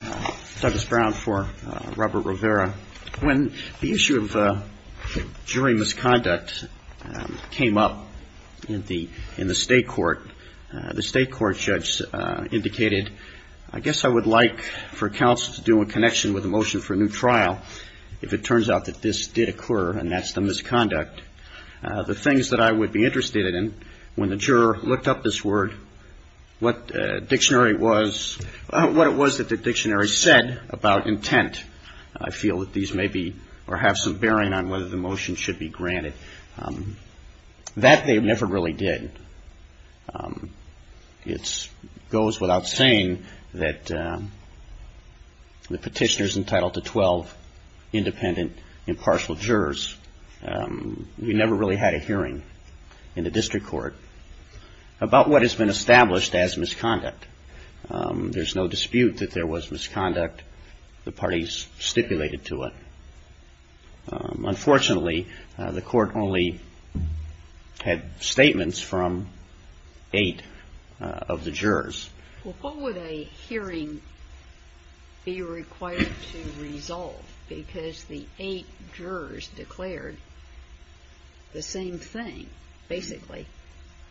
When the issue of jury misconduct came up in the state court, the state court judge indicated, I guess I would like for counsel to do a connection with a motion for a new trial if it turns out that this did occur, and that's the misconduct. The things that I would be interested in, when the juror looked up this word, what dictionary it was, what it was that the dictionary said about intent, I feel that these may be, or have some bearing on whether the motion should be granted. That they never really did. It goes without saying that the petitioner's entitled to 12 independent, impartial jurors. We never really had a hearing in the district court about what has been established as misconduct. There's no dispute that there was misconduct. The parties stipulated to it. Unfortunately, the court only had statements from eight of the jurors. Well, what would a hearing be required to resolve? Because the eight jurors declared the same thing, basically,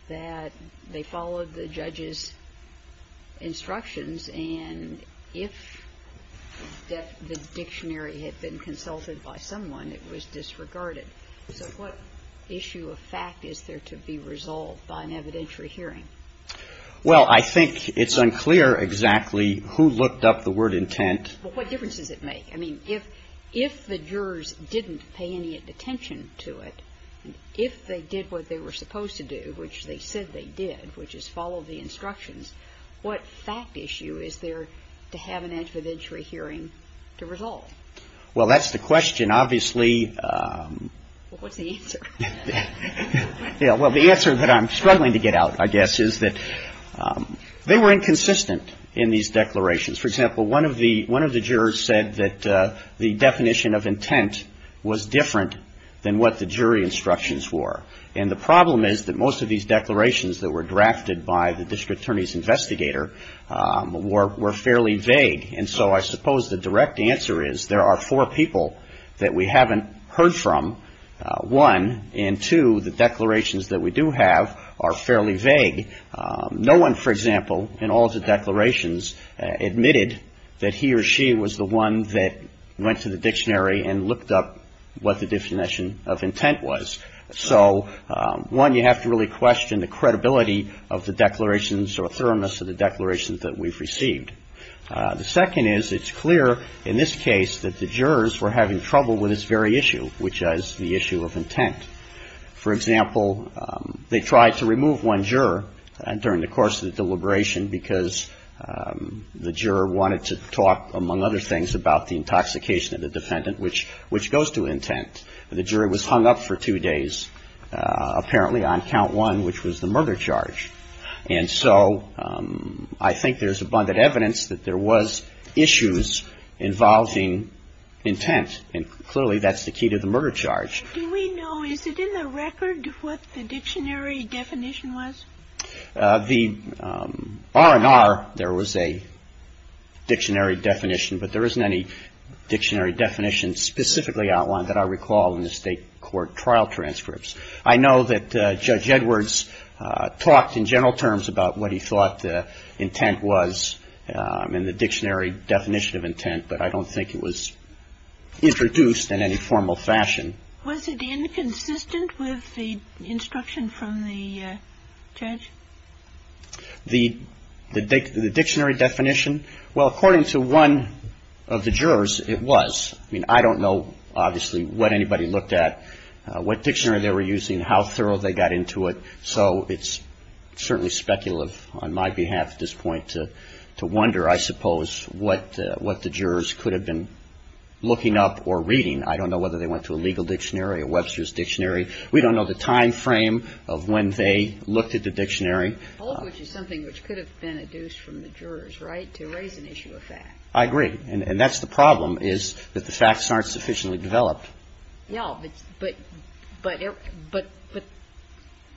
that they followed the judge's instructions, and if the dictionary had been consulted by someone, it was disregarded. So what issue of fact is there to be resolved by an evidentiary hearing? Well, I think it's unclear exactly who looked up the word intent. But what difference does it make? I mean, if the jurors didn't pay any attention to it, if they did what they were supposed to do, which they said they did, which is follow the instructions, what fact issue is there to have an evidentiary hearing to resolve? Well, that's the question, obviously. Well, what's the answer? Yeah, well, the answer that I'm struggling to get out, I guess, is that they were inconsistent in these declarations. For example, one of the jurors said that the definition of intent was different than what the jury instructions were. And the problem is that most of these declarations that were drafted by the district attorney's investigator were fairly vague. And so I suppose the direct answer is there are four people that we haven't heard from. One, and two, the declarations that we do have are fairly vague. No one, for example, in all the declarations admitted that he or she was the one that went to the dictionary and looked up what the definition of intent was. So, one, you have to really question the credibility of the declarations or thoroughness of the declarations that we've received. The second is it's clear in this case that the jurors were having trouble with this very issue, which is the issue of intent. For example, they tried to remove one juror during the course of the deliberation because the juror wanted to talk, among other things, about the intoxication of the defendant, which goes to intent. The juror was hung up for two days, apparently, on count one, which was the murder charge. And so I think there's abundant evidence that there was issues involving intent. And clearly, that's the key to the murder charge. Do we know, is it in the record, what the dictionary definition was? The R&R, there was a dictionary definition, but there isn't any dictionary definition specifically outlined that I recall in the state court trial transcripts. I know that it's in the dictionary definition of intent, but I don't think it was introduced in any formal fashion. Was it inconsistent with the instruction from the judge? The dictionary definition? Well, according to one of the jurors, it was. I mean, I don't know, obviously, what anybody looked at, what dictionary they were using, how thorough they got into it. So it's certainly speculative on my behalf at this point to wonder, I suppose, what the jurors could have been looking up or reading. I don't know whether they went to a legal dictionary, a Webster's dictionary. We don't know the time frame of when they looked at the dictionary. All of which is something which could have been adduced from the jurors, right, to raise an issue of fact. I agree. And that's the problem, is that the facts aren't sufficiently developed. No. But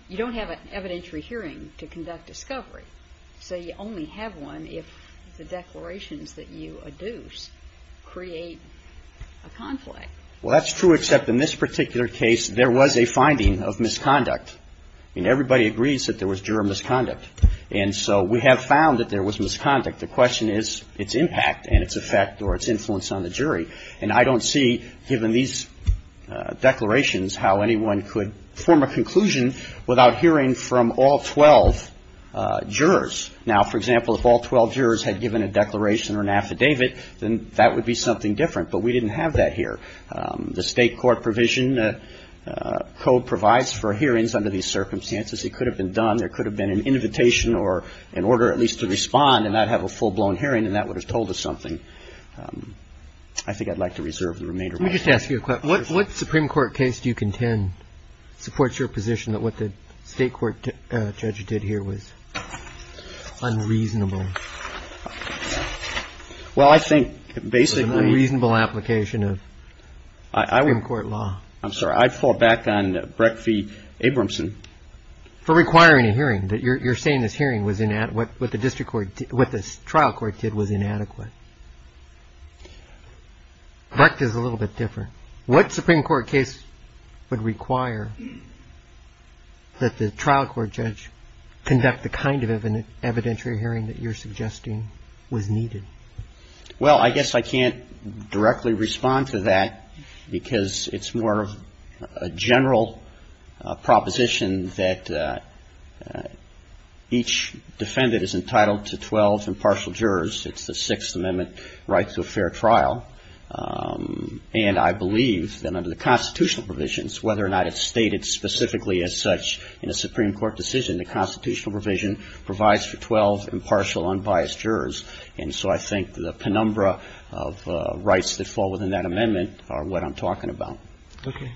you don't have an evidentiary hearing to conduct discovery. So you only have one if the declarations that you adduce create a conflict. Well, that's true, except in this particular case, there was a finding of misconduct. I mean, everybody agrees that there was juror misconduct. And so we have found that there was misconduct. The question is its impact and its effect or its influence on the jury. And I don't see, given these declarations, how anyone could form a conclusion without hearing from all 12 jurors. Now, for example, if all 12 jurors had given a declaration or an affidavit, then that would be something different. But we didn't have that here. The state court provision code provides for hearings under these circumstances. It could have been done. There could have been an invitation or an order at least to I think I'd like to reserve the remainder of my time. Let me just ask you a question. What Supreme Court case do you contend supports your position that what the state court judge did here was unreasonable? Well, I think basically It was an unreasonable application of Supreme Court law. I'm sorry. I'd fall back on Breck v. Abramson. For requiring a hearing, that you're saying this hearing was inadequate, what the district trial court did was inadequate. Buck is a little bit different. What Supreme Court case would require that the trial court judge conduct the kind of evidentiary hearing that you're suggesting was needed? Well, I guess I can't directly respond to that because it's more of a general proposition that each defendant is entitled to 12 impartial jurors. It's the Sixth Amendment right to a fair trial. And I believe that under the constitutional provisions, whether or not it's stated specifically as such in a Supreme Court decision, the constitutional provision provides for 12 impartial unbiased jurors. And so I think the penumbra of rights that fall within that amendment are what I'm talking about. Okay.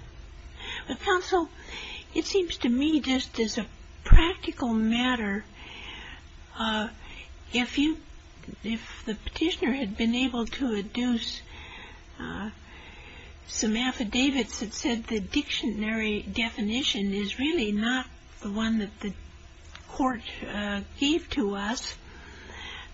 Well, counsel, it seems to me just as a practical matter, if you, if the petitioner had been able to deduce some affidavits that said the dictionary definition is really not the one that the court gave to us,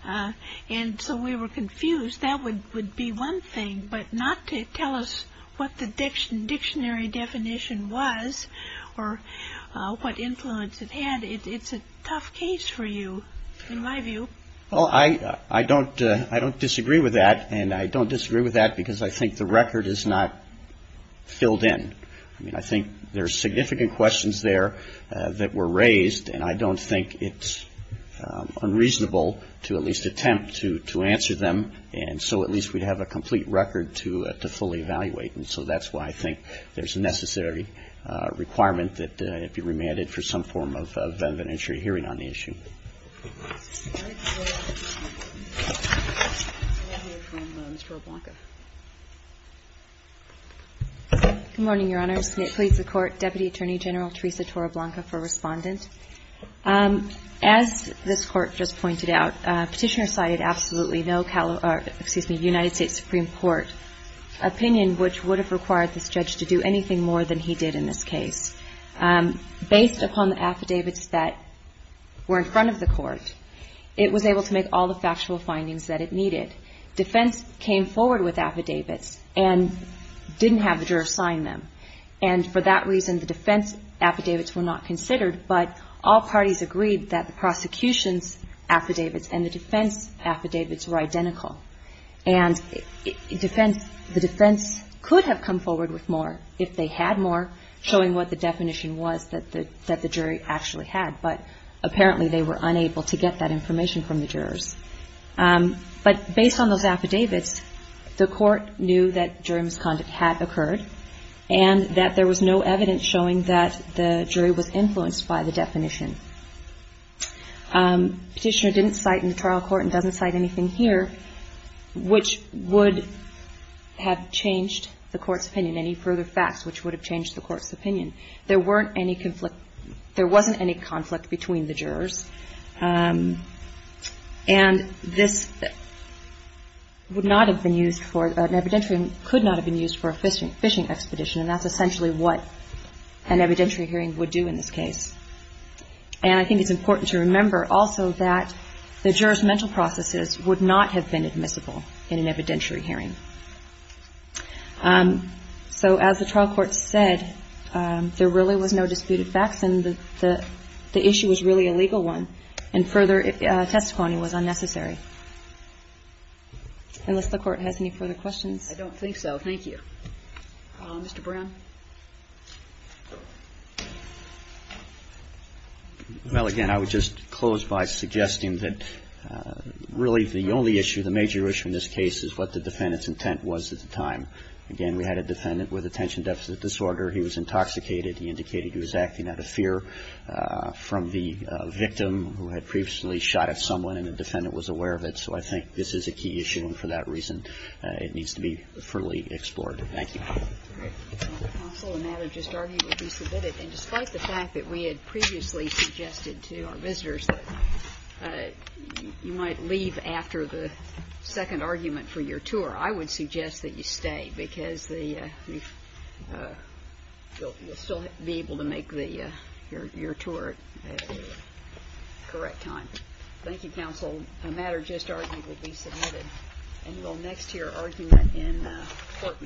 and so we were confused, that would be one thing, but not to tell us what the dictionary definition was or what influence it had, it's a tough case for you, in my view. Well, I don't disagree with that, and I don't disagree with that because I think the record is not filled in. I mean, I think there are significant questions there that were raised, and I don't think it's unreasonable to at least attempt to answer them, and so at least we'd have a complete record to fully evaluate. And so that's why I think there's a necessary requirement that it be remanded for some form of an inventory hearing on the issue. Good morning, Your Honors. It pleads the Court, Deputy Attorney General Teresa Toroblanca for Respondent. As this Court just pointed out, Petitioner cited absolutely no United States Supreme Court opinion which would have required this judge to do anything more than he did in this case. Based upon the affidavits that were in front of the Court, it was able to make all the factual findings that it needed. Defense came forward with affidavits and didn't have the juror sign them, and for that reason the defense affidavits were not considered, but all parties agreed that the prosecution's affidavits and the defense affidavits were identical, and the defense could have come forward with more if they had more, showing what the definition was that the jury actually had, but apparently they were unable to get that information from the jurors. But based on those affidavits, the Court knew that jury misconduct had occurred and that there was no evidence showing that the jury was influenced by the definition. Petitioner didn't cite in the trial court and doesn't cite anything here which would have changed the Court's opinion, any further facts which would have changed the Court's opinion. There wasn't any conflict between the jurors, and this would not have been used for an evidentiary and could not have been used for a fishing expedition, and that's essentially what an evidentiary hearing would do in this case. And I think it's important to remember also that the jurors' mental processes would not have been admissible in an evidentiary hearing. So as the trial court said, there really was no disputed facts and the issue was really a legal one, and further testimony was unnecessary. Unless the Court has any further questions? I don't think so, thank you. Mr. Brown? Well, again, I would just close by suggesting that really the only issue, the major issue in this case is what the defendant's intent was at the time. Again, we had a defendant with attention deficit disorder. He was intoxicated. He indicated he was acting out of fear from the victim who had previously shot at someone and the defendant was aware of it. So I think this is a key issue, and for that reason, it needs to be fully explored. Thank you. Thank you, counsel. The matter just argued will be submitted. And despite the fact that we had previously suggested to our visitors that you might leave after the second argument for your tour, I would suggest that you stay because you'll still be able to make your tour at the correct time. Thank you, counsel. The matter just argued will be submitted. And we'll next hear argument in court.